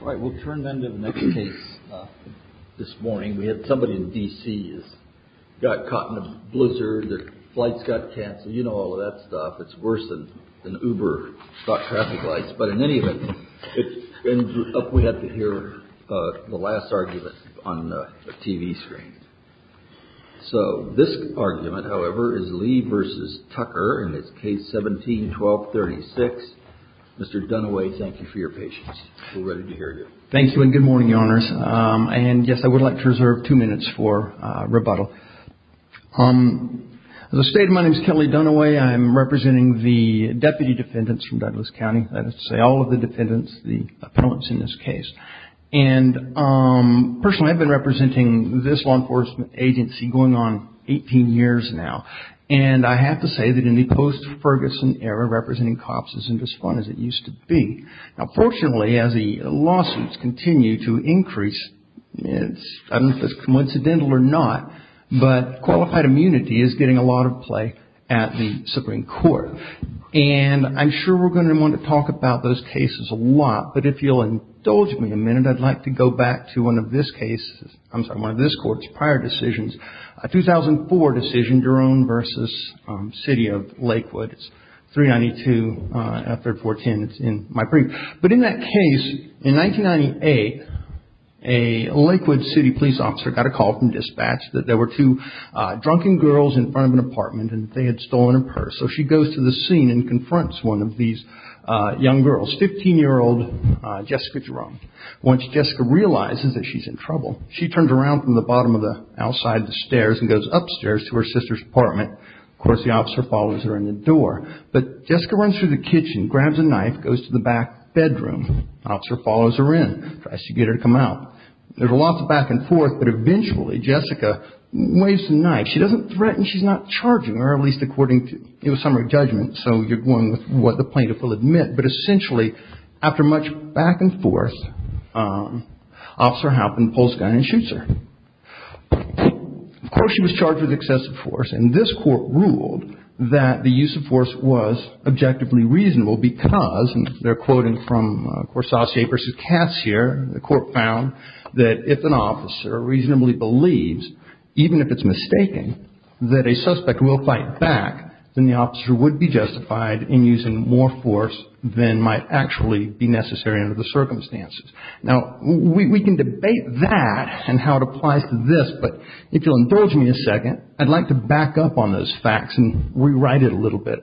All right. We'll turn then to the next case. This morning we had somebody in D.C. got caught in a blizzard. Their flights got canceled. You know all of that stuff. It's worse than Uber, stock traffic lights. But in any event, it's up we have to hear the last argument on the TV screen. So this argument, however, is Lee v. Tucker in this case, 17-12-36. Mr. Dunaway, thank you for your patience. We're ready to hear you. Thank you and good morning, Your Honors. And yes, I would like to reserve two minutes for rebuttal. As I stated, my name is Kelly Dunaway. I'm representing the deputy defendants from Douglas County. That is to say all of the defendants, the appellants in this case. And personally, I've been representing this law enforcement agency going on 18 years now. And I have to say that in the post-Ferguson era, representing cops isn't as fun as it used to be. Now fortunately, as the lawsuits continue to increase, I don't know if it's coincidental or not, but qualified immunity is getting a lot of play at the Supreme Court. And I'm sure we're going to want to talk about those cases a lot. But if you'll indulge me a minute, I'd like to go back to one of this case, I'm sorry, one of this Court's prior decisions, a 2004 decision, Jerome v. City of Lakewood. It's 392 effort 410. It's in my brief. But in that case, in 1998, a Lakewood City police officer got a call from dispatch that there were two drunken girls in front of an apartment and they had stolen a purse. So she goes to the scene and confronts one of these young girls, 15-year-old Jessica Jerome. Once Jessica realizes that she's in trouble, she turns around from the bottom of the outside of the stairs and goes upstairs to her sister's apartment. Of course, the officer follows her in the door. But Jessica runs through the kitchen, grabs a knife, goes to the back bedroom. The officer follows her in, tries to get her to come out. There's a lot of back and forth, but eventually Jessica waves the knife. She doesn't threaten, she's not charging her, at least according to summary judgment, so you're going with what the plaintiff will admit. But essentially, after much back and forth, the officer pulls the gun and shoots her. Of course, she was charged with excessive force, and this court ruled that the use of force was objectively reasonable because, and they're quoting from Corsace v. Cassier, the court found that if an officer reasonably believes, even if it's mistaken, that a suspect will fight back, then the officer would be justified in using more force than might actually be necessary under the circumstances. Now, we can debate that and how it applies to this, but if you'll indulge me a second, I'd like to back up on those facts and rewrite it a little bit.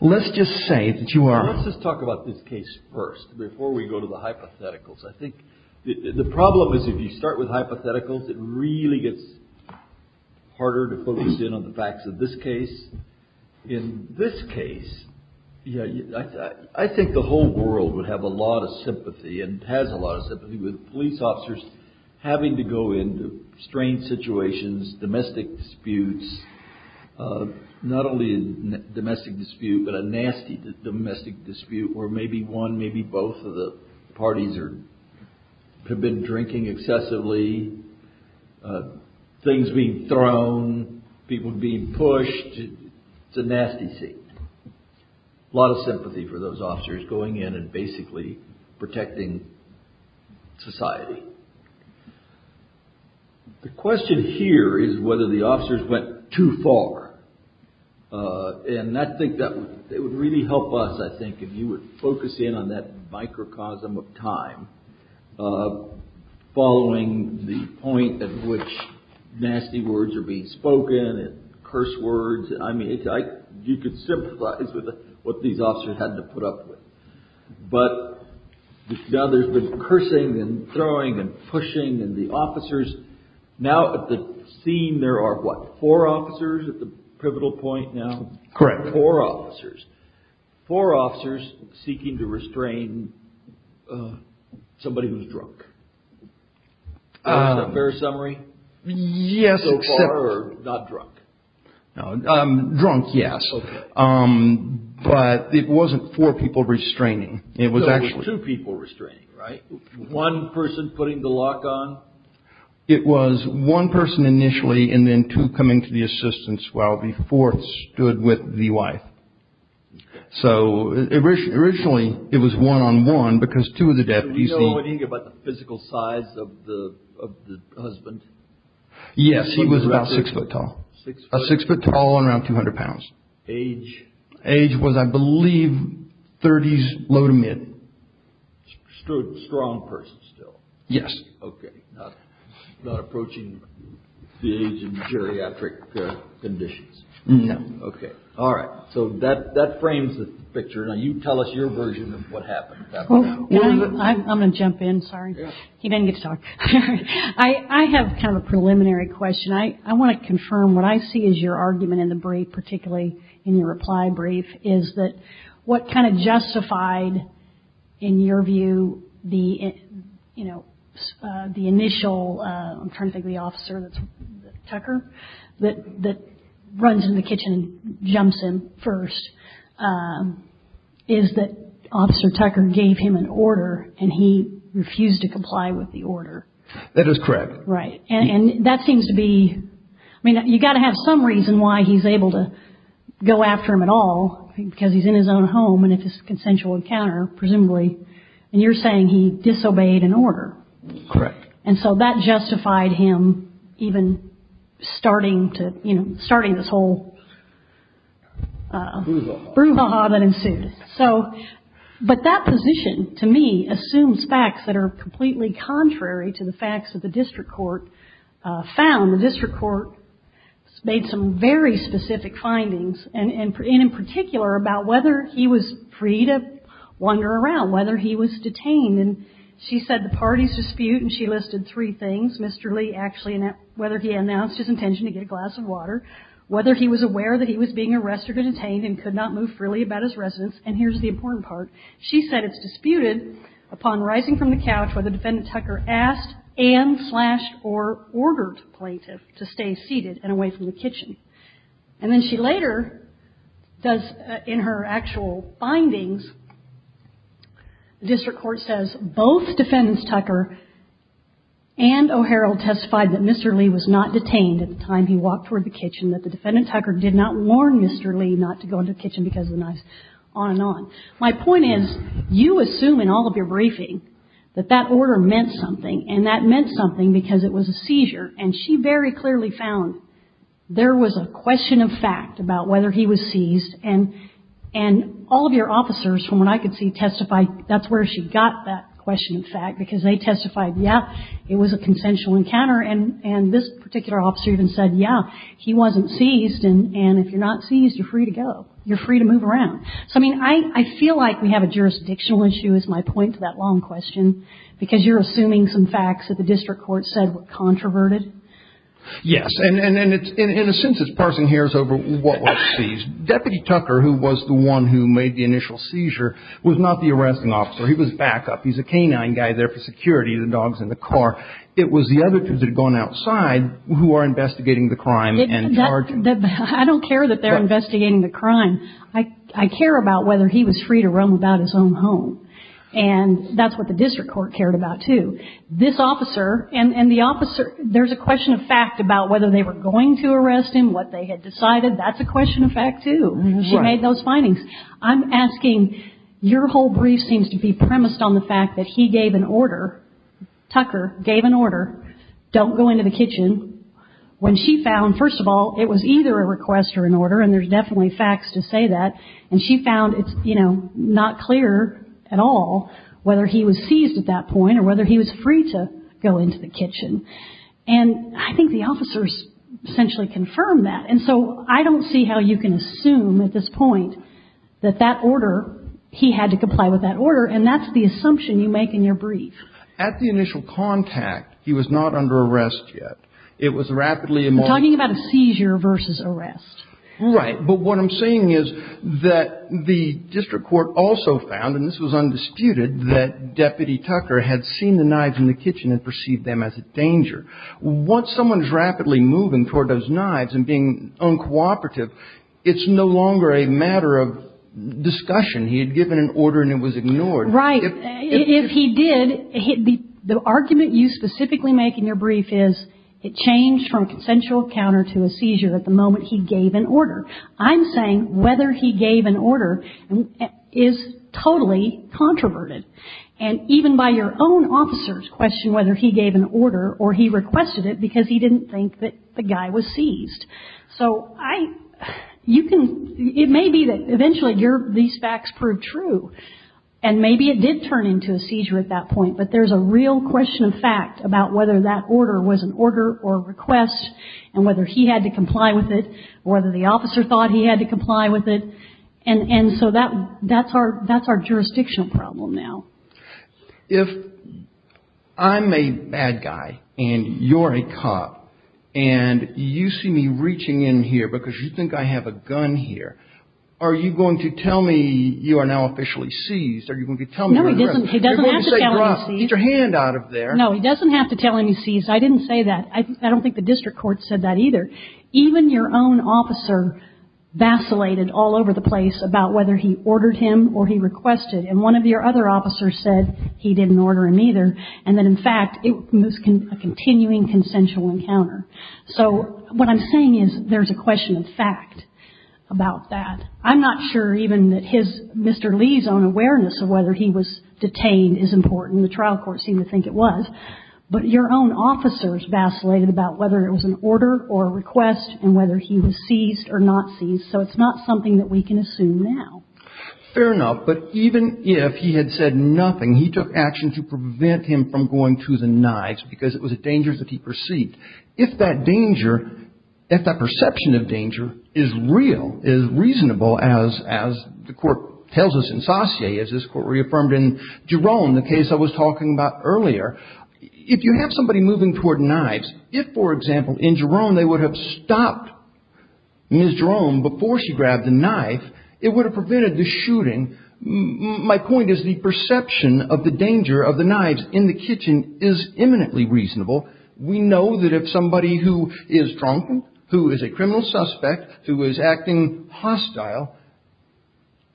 Let's just say that you are Let's just talk about this case first, before we go to the hypotheticals. I think the problem is if you start with hypotheticals, it really gets harder to focus in on the facts of this case. In this case, I think the whole world would have a lot of sympathy and has a lot of sympathy with police officers having to go into strange situations, domestic disputes, not only a domestic dispute, but a nasty domestic dispute where maybe one, maybe both of the things being thrown, people being pushed, it's a nasty scene. A lot of sympathy for those officers going in and basically protecting society. The question here is whether the officers went too far, and I think that would really help us, I think, if you would focus in on that microcosm of time, following the point at which nasty words are being spoken and curse words. I mean, you could sympathize with what these officers had to put up with. But now there's been cursing and throwing and pushing and the officers, now at the scene there are what, four officers at the pivotal point now? Correct. There are four officers. Four officers seeking to restrain somebody who's drunk. Is that a fair summary? Yes, except... So far, or not drunk? Drunk, yes. Okay. But it wasn't four people restraining. It was actually... So it was two people restraining, right? One person putting the lock on? It was one person initially and then two coming to the assistance while the fourth stood with the wife. So originally it was one-on-one because two of the deputies... Did you know anything about the physical size of the husband? Yes, he was about six foot tall. Six foot tall and around 200 pounds. Age? Age was, I believe, thirties low to mid. Stood strong person still? Yes. Okay. Not approaching the age in geriatric conditions. No. Okay. All right. So that frames the picture. Now you tell us your version of what happened. I'm going to jump in. Sorry. He didn't get to talk. I have kind of a preliminary question. I want to confirm what I see as your argument in the brief, particularly in your reply brief, is that what kind of justified, in your view, the initial... I'm trying to think of the officer, Tucker, that runs in the kitchen and jumps in first, is that Officer Tucker gave him an order and he refused to comply with the order. That is correct. Right. And that seems to be... I mean, you've got to have some reason why he's able to go after him at all, because he's in his own home and it's a consensual encounter, presumably. And you're saying he disobeyed an order. Correct. And so that justified him even starting this whole... Brouhaha. Brouhaha that ensued. But that position, to me, assumes facts that are completely contrary to the facts that the district court found. The district court made some very specific findings, and in particular, about whether he was free to wander around, whether he was detained. And she said the parties dispute, and she listed three things, Mr. Lee actually, whether he announced his intention to get a glass of water, whether he was aware that he was being arrested or detained and could not move freely about his residence. And here's the important part. She said it's disputed upon rising from the couch whether Defendant Tucker asked and slashed or ordered the plaintiff to stay seated and away from the kitchen. And then she later does, in her actual findings, the district court says both Defendants Tucker and O'Harald testified that Mr. Lee was not detained at the time he walked toward the kitchen, that the Defendant Tucker did not warn Mr. Lee not to go into the kitchen because of the knife, on and on. My point is you assume in all of your briefing that that order meant something, and that meant something because it was a seizure. And she very clearly found there was a question of fact about whether he was seized, and all of your officers, from what I could see, testified that's where she got that question of fact because they testified, yeah, it was a consensual encounter, and this particular officer even said, yeah, he wasn't seized, and if you're not seized, you're free to go. You're free to move around. So, I mean, I feel like we have a jurisdictional issue is my point to that long question because you're assuming some facts that the district court said were controverted. Yes, and in a sense it's parsing hairs over what was seized. Deputy Tucker, who was the one who made the initial seizure, was not the arresting officer. He was backup. He's a canine guy there for security, the dog's in the car. It was the other two that had gone outside who are investigating the crime and charging. I don't care that they're investigating the crime. I care about whether he was free to roam about his own home, and that's what the district court cared about, too. This officer and the officer, there's a question of fact about whether they were going to arrest him, what they had decided. That's a question of fact, too. She made those findings. I'm asking, your whole brief seems to be premised on the fact that he gave an order, Tucker gave an order, don't go into the kitchen, when she found, first of all, it was either a request or an order, and there's definitely facts to say that, and she found it's, you know, not clear at all whether he was seized at that point or whether he was free to go into the kitchen. And I think the officers essentially confirmed that. And so I don't see how you can assume at this point that that order, he had to comply with that order, and that's the assumption you make in your brief. At the initial contact, he was not under arrest yet. It was rapidly emolgent. I'm talking about a seizure versus arrest. Right. But what I'm saying is that the district court also found, and this was undisputed, that Deputy Tucker had seen the knives in the kitchen and perceived them as a danger. Once someone's rapidly moving toward those knives and being uncooperative, it's no longer a matter of discussion. He had given an order and it was ignored. Right. If he did, the argument you specifically make in your brief is it changed from consensual counter to a seizure at the moment he gave an order. I'm saying whether he gave an order is totally controverted. And even by your own officer's question whether he gave an order or he requested it because he didn't think that the guy was seized. So I, you can, it may be that eventually these facts prove true and maybe it did turn into a seizure at that point, but there's a real question of fact about whether that order was an order or a request and whether he had to comply with it or whether the officer thought he had to comply with it. And so that's our jurisdictional problem now. If I'm a bad guy and you're a cop, and you see me reaching in here because you think I have a gun here, are you going to tell me you are now officially seized? Are you going to tell me you're under arrest? No, he doesn't have to tell me he's seized. Get your hand out of there. No, he doesn't have to tell him he's seized. I didn't say that. I don't think the district court said that either. Even your own officer vacillated all over the place about whether he ordered him or he requested and one of your other officers said he didn't order him either and that in fact it was a continuing consensual encounter. So what I'm saying is there's a question of fact about that. I'm not sure even that his, Mr. Lee's own awareness of whether he was detained is important. The trial court seemed to think it was. But your own officers vacillated about whether it was an order or a request and whether he was seized or not seized. So it's not something that we can assume now. Fair enough, but even if he had said nothing, he took action to prevent him from going to the knives because it was a danger that he perceived. If that danger, if that perception of danger is real, is reasonable, as the court tells us in Saussure, as this court reaffirmed in Jerome, the case I was talking about earlier, if you have somebody moving toward knives, if for example in Jerome they would have stopped Ms. Jerome before she grabbed the knife, it would have prevented the shooting. My point is the perception of the danger of the knives in the kitchen is eminently reasonable. We know that if somebody who is drunken, who is a criminal suspect, who is acting hostile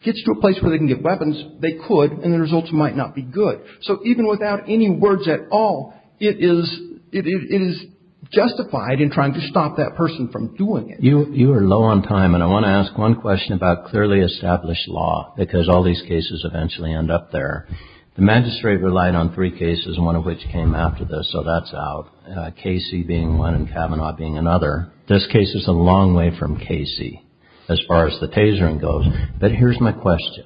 gets to a place where they can get weapons, they could and the results might not be good. So even without any words at all, it is justified in trying to stop that person from doing it. You are low on time and I want to ask one question about clearly established law because all these cases eventually end up there. The magistrate relied on three cases, one of which came after this, so that's out. Casey being one and Kavanaugh being another. This case is a long way from Casey as far as the tasering goes. But here's my question.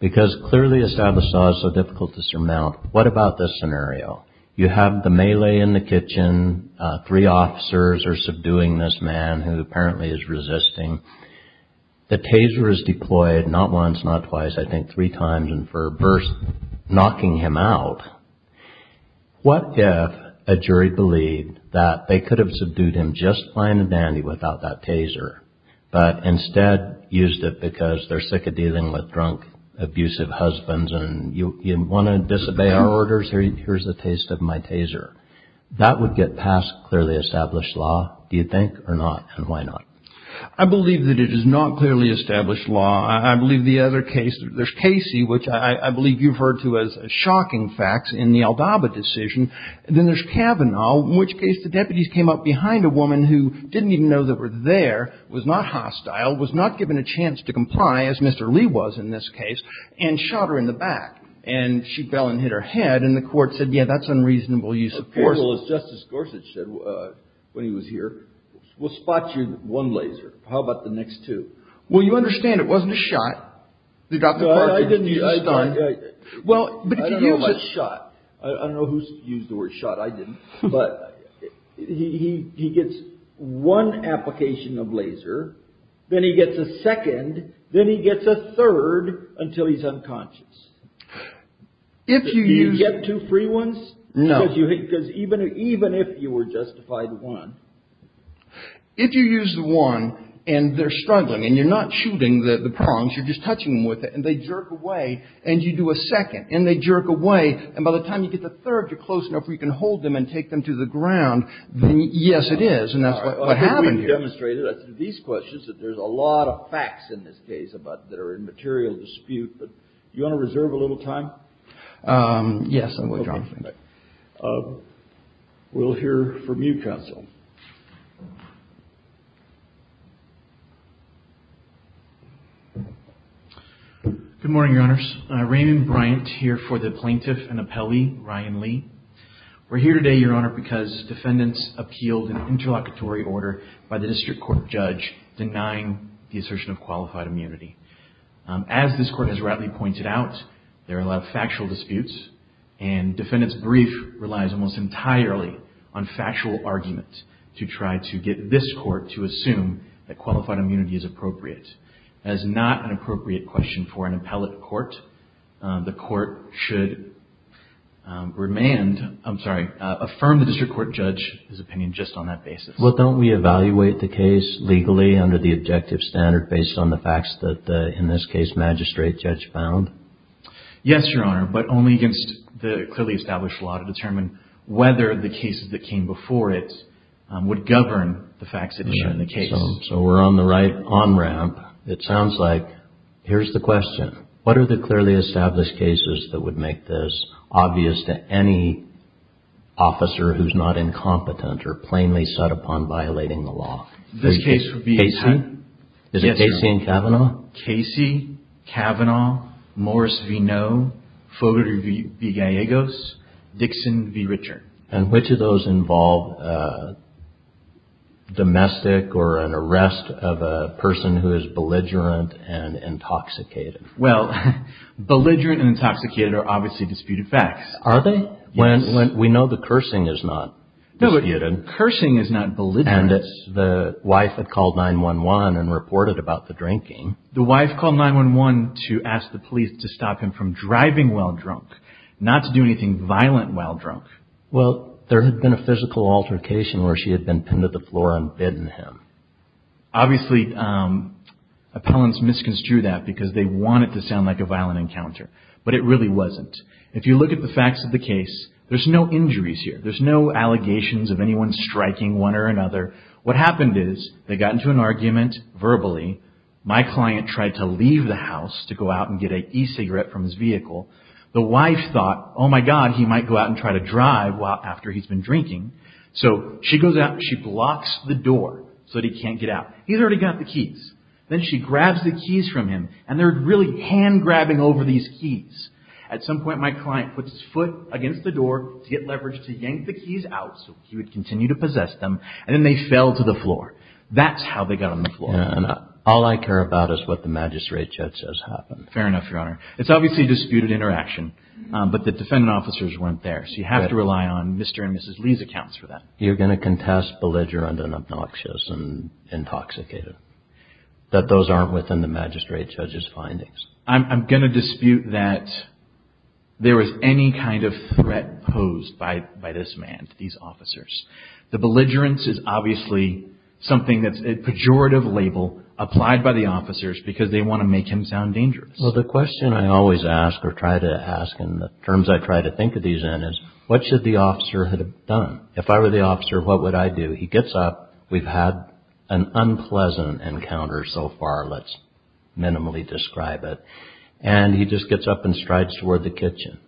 Because clearly established law is so difficult to surmount, what about this scenario? You have the melee in the kitchen. Three officers are subduing this man who apparently is resisting. The taser is deployed not once, not twice, I think three times and for a burst, knocking him out. What if a jury believed that they could have subdued him just fine and dandy without that taser, but instead used it because they're sick of dealing with drunk, abusive husbands and you want to disobey our orders, here's a taste of my taser. That would get past clearly established law, do you think, or not, and why not? I believe that it is not clearly established law. I believe the other case, there's Casey, which I believe you referred to as shocking facts in the Aldaba decision. Then there's Kavanaugh, in which case the deputies came up behind a woman who didn't even know that were there, was not hostile, was not given a chance to comply, as Mr. Lee was in this case, and shot her in the back. And she fell and hit her head and the court said, yeah, that's unreasonable use of force. Well, as Justice Gorsuch said when he was here, we'll spot you with one laser. How about the next two? Well, you understand it wasn't a shot. I didn't use a shot. I don't know who used the word shot. I didn't. But he gets one application of laser, then he gets a second, then he gets a third until he's unconscious. Do you get two free ones? No. Because even if you were justified one. If you use one and they're struggling and you're not shooting the prongs, you're just touching them with it, and they jerk away and you do a second and they jerk away, and by the time you get the third, you're close enough where you can hold them and take them to the ground, then yes, it is. And that's what happened here. We've demonstrated these questions that there's a lot of facts in this case that are in material dispute. Do you want to reserve a little time? Yes. We'll hear from you, counsel. Good morning, Your Honors. Raymond Bryant here for the plaintiff and appellee, Ryan Lee. We're here today, Your Honor, because defendants appealed an interlocutory order by the district court judge denying the assertion of qualified immunity. As this court has rightly pointed out, there are a lot of factual disputes, and defendant's brief relies almost entirely on factual argument to try to get this court to assume that qualified immunity is appropriate. That is not an appropriate question for an appellate court. The court should affirm the district court judge's opinion just on that basis. Well, don't we evaluate the case legally under the objective standard based on the facts that, in this case, magistrate judge found? Yes, Your Honor, but only against the clearly established law to determine whether the cases that came before it would govern the facts that are shown in the case. So we're on the right on-ramp. It sounds like here's the question. What are the clearly established cases that would make this obvious to any officer who's not incompetent or plainly set upon violating the law? This case would be... Casey? Yes, Your Honor. Is it Casey and Kavanaugh? Casey, Kavanaugh, Morris v. Noe, Fodor v. Gallegos, Dixon v. Richard. And which of those involve domestic or an arrest of a person who is belligerent and intoxicated? Well, belligerent and intoxicated are obviously disputed facts. Are they? Yes. Well, we know the cursing is not disputed. No, but cursing is not belligerent. And the wife had called 911 and reported about the drinking. The wife called 911 to ask the police to stop him from driving while drunk, not to do anything violent while drunk. Well, there had been a physical altercation where she had been pinned to the floor and bitten him. Obviously, appellants misconstrued that because they wanted it to sound like a violent encounter, but it really wasn't. If you look at the facts of the case, there's no injuries here. There's no allegations of anyone striking one or another. What happened is they got into an argument verbally. My client tried to leave the house to go out and get an e-cigarette from his vehicle. The wife thought, oh, my God, he might go out and try to drive after he's been drinking. So she goes out and she blocks the door so that he can't get out. He's already got the keys. Then she grabs the keys from him, and they're really hand-grabbing over these keys. At some point, my client puts his foot against the door to get leverage to yank the keys out so he would continue to possess them, and then they fell to the floor. That's how they got on the floor. And all I care about is what the magistrate judge says happened. Fair enough, Your Honor. It's obviously a disputed interaction, but the defendant officers weren't there, so you have to rely on Mr. and Mrs. Lee's accounts for that. You're going to contest belligerent and obnoxious and intoxicated, that those aren't within the magistrate judge's findings? I'm going to dispute that there was any kind of threat posed by this man to these officers. The belligerence is obviously something that's a pejorative label applied by the officers because they want to make him sound dangerous. Well, the question I always ask or try to ask, and the terms I try to think of these in, is what should the officer have done? If I were the officer, what would I do? He gets up. We've had an unpleasant encounter so far. Let's minimally describe it. And he just gets up and strides toward the kitchen.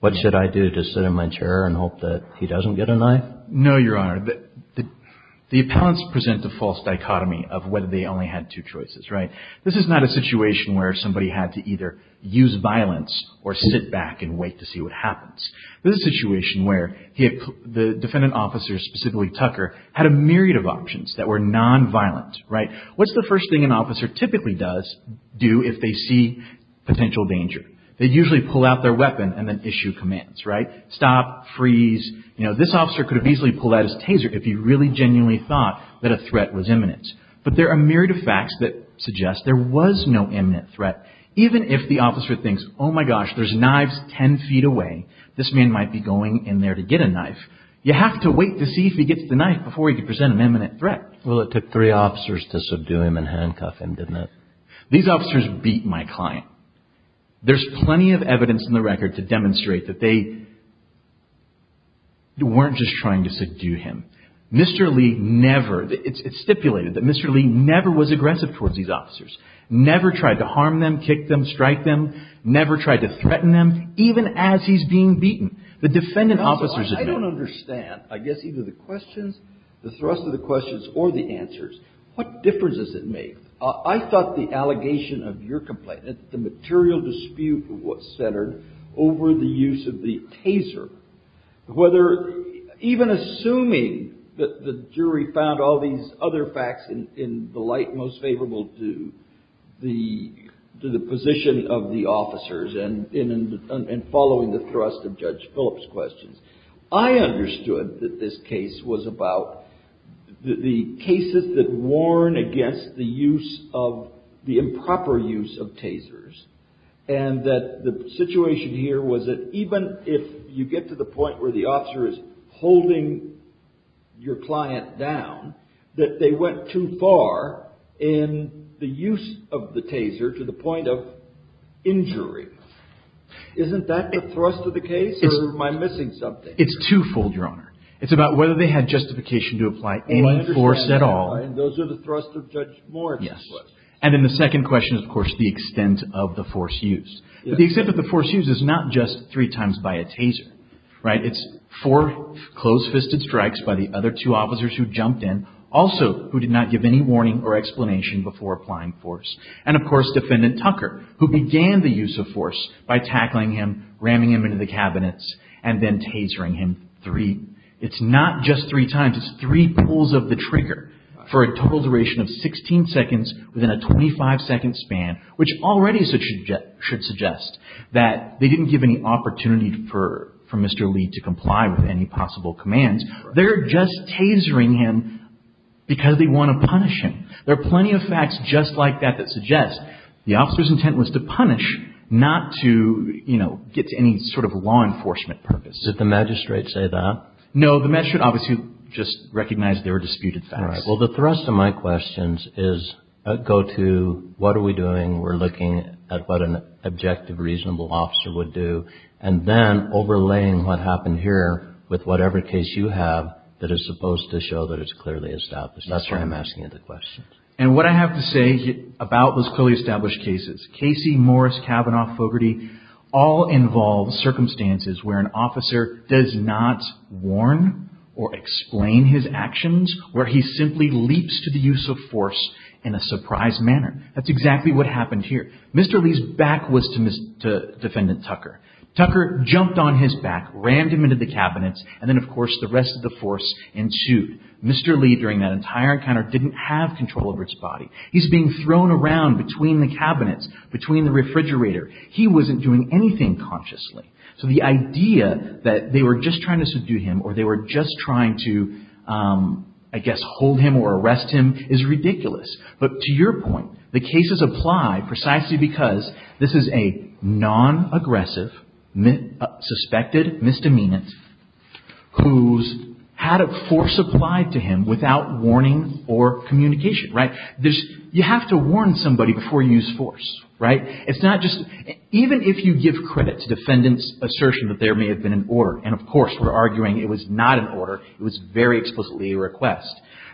What should I do? Just sit in my chair and hope that he doesn't get a knife? No, Your Honor. The appellants present a false dichotomy of whether they only had two choices, right? This is not a situation where somebody had to either use violence or sit back and wait to see what happens. This is a situation where the defendant officers, specifically Tucker, had a myriad of options that were nonviolent, right? What's the first thing an officer typically does do if they see potential danger? They usually pull out their weapon and then issue commands, right? Stop, freeze. You know, this officer could have easily pulled out his taser if he really genuinely thought that a threat was imminent. But there are a myriad of facts that suggest there was no imminent threat. Even if the officer thinks, oh, my gosh, there's knives ten feet away, this man might be going in there to get a knife, you have to wait to see if he gets the knife before you can present an imminent threat. Well, it took three officers to subdue him and handcuff him, didn't it? These officers beat my client. There's plenty of evidence in the record to demonstrate that they weren't just trying to subdue him. Mr. Lee never – it's stipulated that Mr. Lee never was aggressive towards these officers, never tried to harm them, kick them, strike them, never tried to threaten them, even as he's being beaten. The defendant officers admit it. I don't understand, I guess, either the questions, the thrust of the questions or the answers. What difference does it make? I thought the allegation of your complaint, that the material dispute was centered over the use of the taser, whether even assuming that the jury found all these other facts in the light most favorable to the position of the officers and following the thrust of Judge Phillips' questions. I understood that this case was about the cases that warn against the improper use of tasers and that the situation here was that even if you get to the point where the officer is holding your client down, that they went too far in the use of the taser to the point of injury. Isn't that the thrust of the case, or am I missing something? It's twofold, Your Honor. It's about whether they had justification to apply any force at all. And those are the thrusts of Judge Morris. Yes. And then the second question is, of course, the extent of the force used. But the extent of the force used is not just three times by a taser, right? It's four close-fisted strikes by the other two officers who jumped in, also who did not give any warning or explanation before applying force. And, of course, Defendant Tucker, who began the use of force by tackling him, ramming him into the cabinets, and then tasering him three. It's not just three times. It's three pulls of the trigger for a total duration of 16 seconds within a 25-second span, which already should suggest that they didn't give any opportunity for Mr. Lee to comply with any possible commands. They're just tasering him because they want to punish him. There are plenty of facts just like that that suggest the officer's intent was to punish, not to, you know, get to any sort of law enforcement purpose. Did the magistrate say that? No. The magistrate obviously just recognized they were disputed facts. Well, the thrust of my questions is go to what are we doing, we're looking at what an objective, reasonable officer would do, and then overlaying what happened here with whatever case you have that is supposed to show that it's clearly established. That's why I'm asking you the questions. And what I have to say about those clearly established cases, Casey, Morris, Kavanaugh, Fogarty, all involve circumstances where an officer does not warn or explain his actions, where he simply leaps to the use of force in a surprise manner. That's exactly what happened here. Mr. Lee's back was to Defendant Tucker. Tucker jumped on his back, rammed him into the cabinets, and then, of course, the rest of the force ensued. Mr. Lee, during that entire encounter, didn't have control over his body. He's being thrown around between the cabinets, between the refrigerator. He wasn't doing anything consciously. So the idea that they were just trying to subdue him or they were just trying to, I guess, hold him or arrest him is ridiculous. But to your point, the cases apply precisely because this is a non-aggressive, suspected misdemeanant who's had a force applied to him without warning or communication, right? You have to warn somebody before you use force, right? Even if you give credit to Defendant's assertion that there may have been an order, and, of course, we're arguing it was not an order, it was very explicitly a request,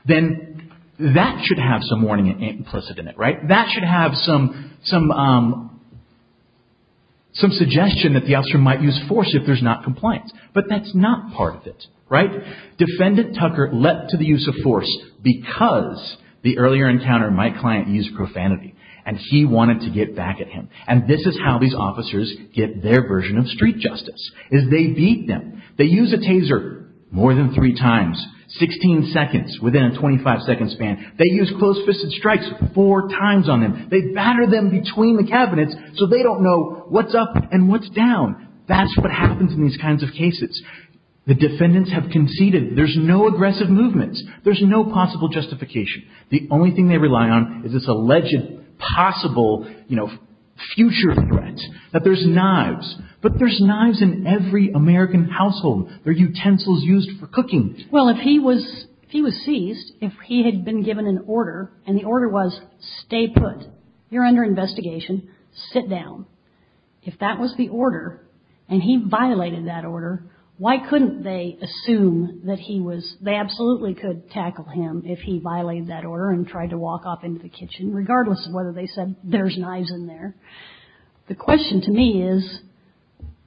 then that should have some warning implicit in it, right? That should have some suggestion that the officer might use force if there's not compliance. But that's not part of it, right? Defendant Tucker let to the use of force because the earlier encounter my client used profanity, and he wanted to get back at him. And this is how these officers get their version of street justice, is they beat them. They use a taser more than three times, 16 seconds, within a 25-second span. They use close-fisted strikes four times on him. They batter them between the cabinets so they don't know what's up and what's down. That's what happens in these kinds of cases. The defendants have conceded there's no aggressive movements. There's no possible justification. The only thing they rely on is this alleged possible, you know, future threat that there's knives. But there's knives in every American household. There are utensils used for cooking. Well, if he was seized, if he had been given an order, and the order was stay put, you're under investigation, sit down, if that was the order, and he violated that order, why couldn't they assume that he was, they absolutely could tackle him if he violated that order and tried to walk off into the kitchen, regardless of whether they said there's knives in there. The question to me is,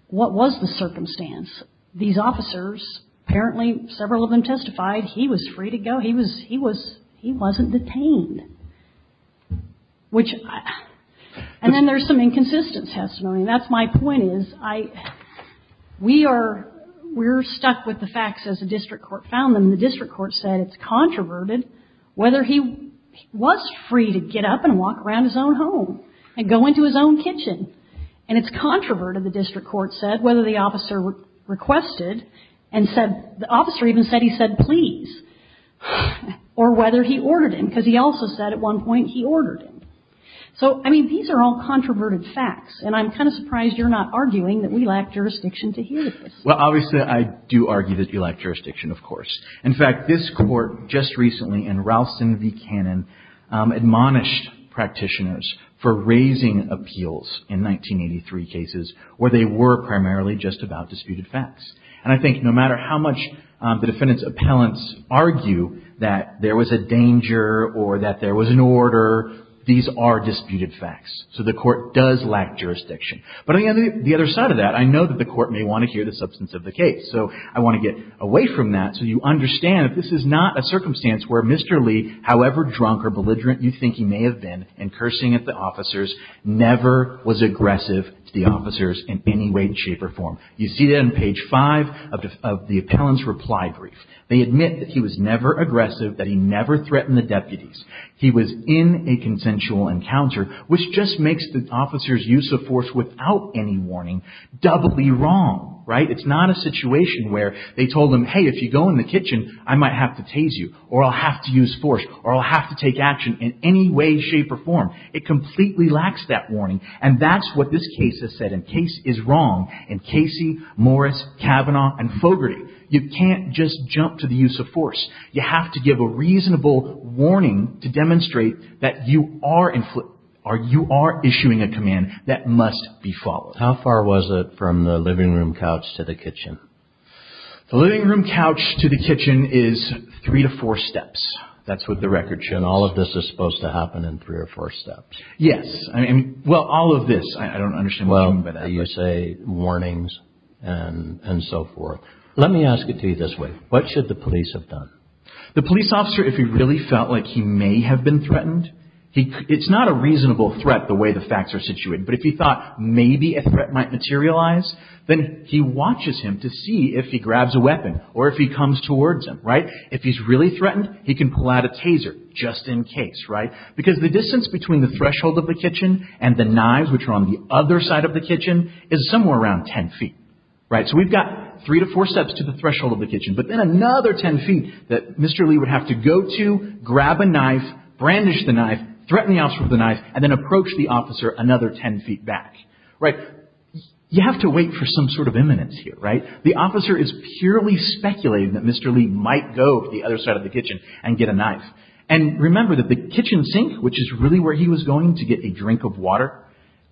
what was the circumstance? These officers, apparently several of them testified, he was free to go. He was, he wasn't detained. Which, and then there's some inconsistent testimony. And that's my point is, I, we are, we're stuck with the facts as the district court found them. The district court said it's controverted whether he was free to get up and walk around his own home and go into his own kitchen. And it's controverted, the district court said, whether the officer requested and said, the officer even said he said please. Or whether he ordered him, because he also said at one point he ordered him. So, I mean, these are all controverted facts. And I'm kind of surprised you're not arguing that we lack jurisdiction to hear this. Well, obviously I do argue that you lack jurisdiction, of course. In fact, this court just recently in Ralston v. Cannon admonished practitioners for raising appeals in 1983 cases where they were primarily just about disputed facts. And I think no matter how much the defendant's appellants argue that there was a danger or that there was an order, these are disputed facts. So the court does lack jurisdiction. But on the other side of that, I know that the court may want to hear the substance of the case. So I want to get away from that so you understand that this is not a circumstance where Mr. Lee, however drunk or belligerent you think he may have been, in cursing at the officers, never was aggressive to the officers in any way, shape, or form. You see that on page 5 of the appellant's reply brief. They admit that he was never aggressive, that he never threatened the deputies. He was in a consensual encounter, which just makes the officer's use of force without any warning doubly wrong, right? It's not a situation where they told him, hey, if you go in the kitchen, I might have to tase you or I'll have to use force or I'll have to take action in any way, shape, or form. It completely lacks that warning. And that's what this case has said. The case is wrong in Casey, Morris, Kavanaugh, and Fogarty. You can't just jump to the use of force. You have to give a reasonable warning to demonstrate that you are issuing a command that must be followed. How far was it from the living room couch to the kitchen? The living room couch to the kitchen is three to four steps. That's what the record shows. And all of this is supposed to happen in three or four steps? Yes. Well, all of this, I don't understand what you mean by that. You say warnings and so forth. Let me ask it to you this way. What should the police have done? The police officer, if he really felt like he may have been threatened, it's not a reasonable threat the way the facts are situated. But if he thought maybe a threat might materialize, then he watches him to see if he grabs a weapon or if he comes towards him, right? If he's really threatened, he can pull out a taser just in case, right? Because the distance between the threshold of the kitchen and the knives, which are on the other side of the kitchen, is somewhere around ten feet, right? So we've got three to four steps to the threshold of the kitchen, but then another ten feet that Mr. Lee would have to go to, grab a knife, brandish the knife, threaten the officer with the knife, and then approach the officer another ten feet back, right? You have to wait for some sort of imminence here, right? The officer is purely speculating that Mr. Lee might go to the other side of the kitchen and get a knife. And remember that the kitchen sink, which is really where he was going to get a drink of water,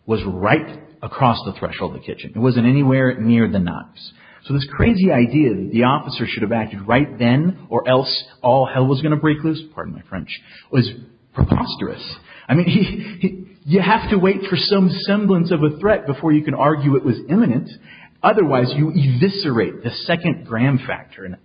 was right across the threshold of the kitchen. It wasn't anywhere near the knives. So this crazy idea that the officer should have acted right then or else all hell was going to break loose, pardon my French, was preposterous. I mean, you have to wait for some semblance of a threat before you can argue it was imminent. Otherwise, you eviscerate the second gram factor in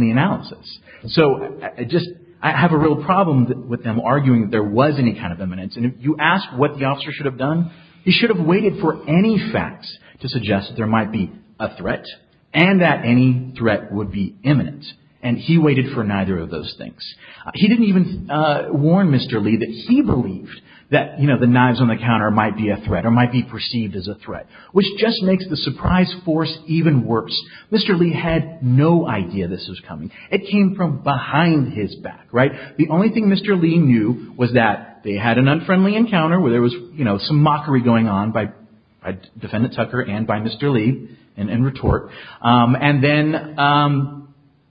the analysis. So I just have a real problem with them arguing that there was any kind of imminence. And if you ask what the officer should have done, he should have waited for any facts to suggest there might be a threat and that any threat would be imminent. And he waited for neither of those things. He didn't even warn Mr. Lee that he believed that, you know, the knives on the counter might be a threat or might be perceived as a threat, which just makes the surprise force even worse. Mr. Lee had no idea this was coming. It came from behind his back, right? The only thing Mr. Lee knew was that they had an unfriendly encounter where there was, you know, some mockery going on by Defendant Tucker and by Mr. Lee in retort. And then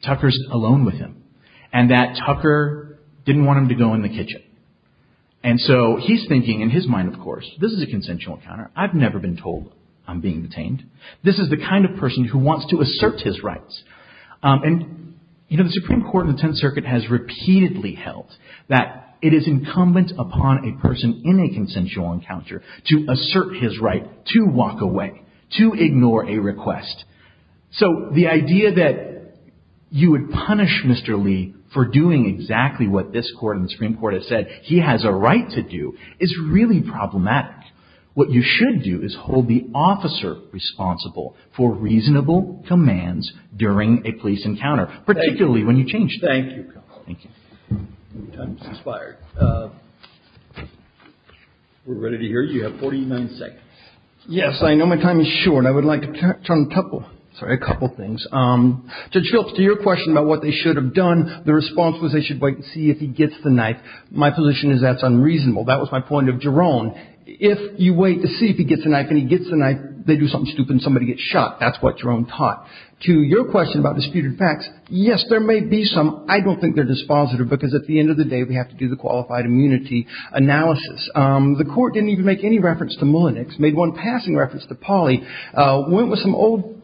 Tucker's alone with him and that Tucker didn't want him to go in the kitchen. And so he's thinking in his mind, of course, this is a consensual encounter. I've never been told I'm being detained. This is the kind of person who wants to assert his rights. And, you know, the Supreme Court and the Tenth Circuit has repeatedly held that it is incumbent upon a person in a consensual encounter to assert his right to walk away, to ignore a request. So the idea that you would punish Mr. Lee for doing exactly what this court and the Supreme Court have said he has a right to do is really problematic. What you should do is hold the officer responsible for reasonable commands during a police encounter, particularly when you change. Thank you. Thank you. Your time has expired. We're ready to hear you. You have 49 seconds. Yes, I know my time is short. I would like to touch on a couple of things. Judge Phillips, to your question about what they should have done, the response was they should wait and see if he gets the knife. My position is that's unreasonable. That was my point of Jerome. If you wait to see if he gets the knife and he gets the knife, they do something stupid and somebody gets shot. That's what Jerome taught. To your question about disputed facts, yes, there may be some. I don't think they're dispositive because at the end of the day, we have to do the qualified immunity analysis. The Court didn't even make any reference to Mullenix, made one passing reference to Polly, went with some old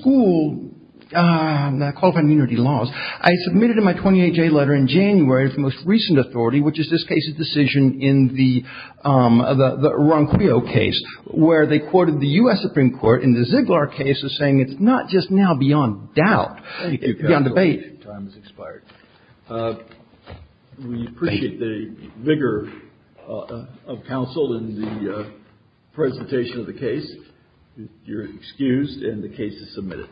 school qualified immunity laws. I submitted in my 28-J letter in January the most recent authority, which is this case's decision in the Ronquillo case, where they quoted the U.S. Supreme Court in the Ziegler case as saying it's not just now beyond doubt. Thank you. Beyond debate. Your time has expired. We appreciate the vigor of counsel in the presentation of the case. You're excused and the case is submitted.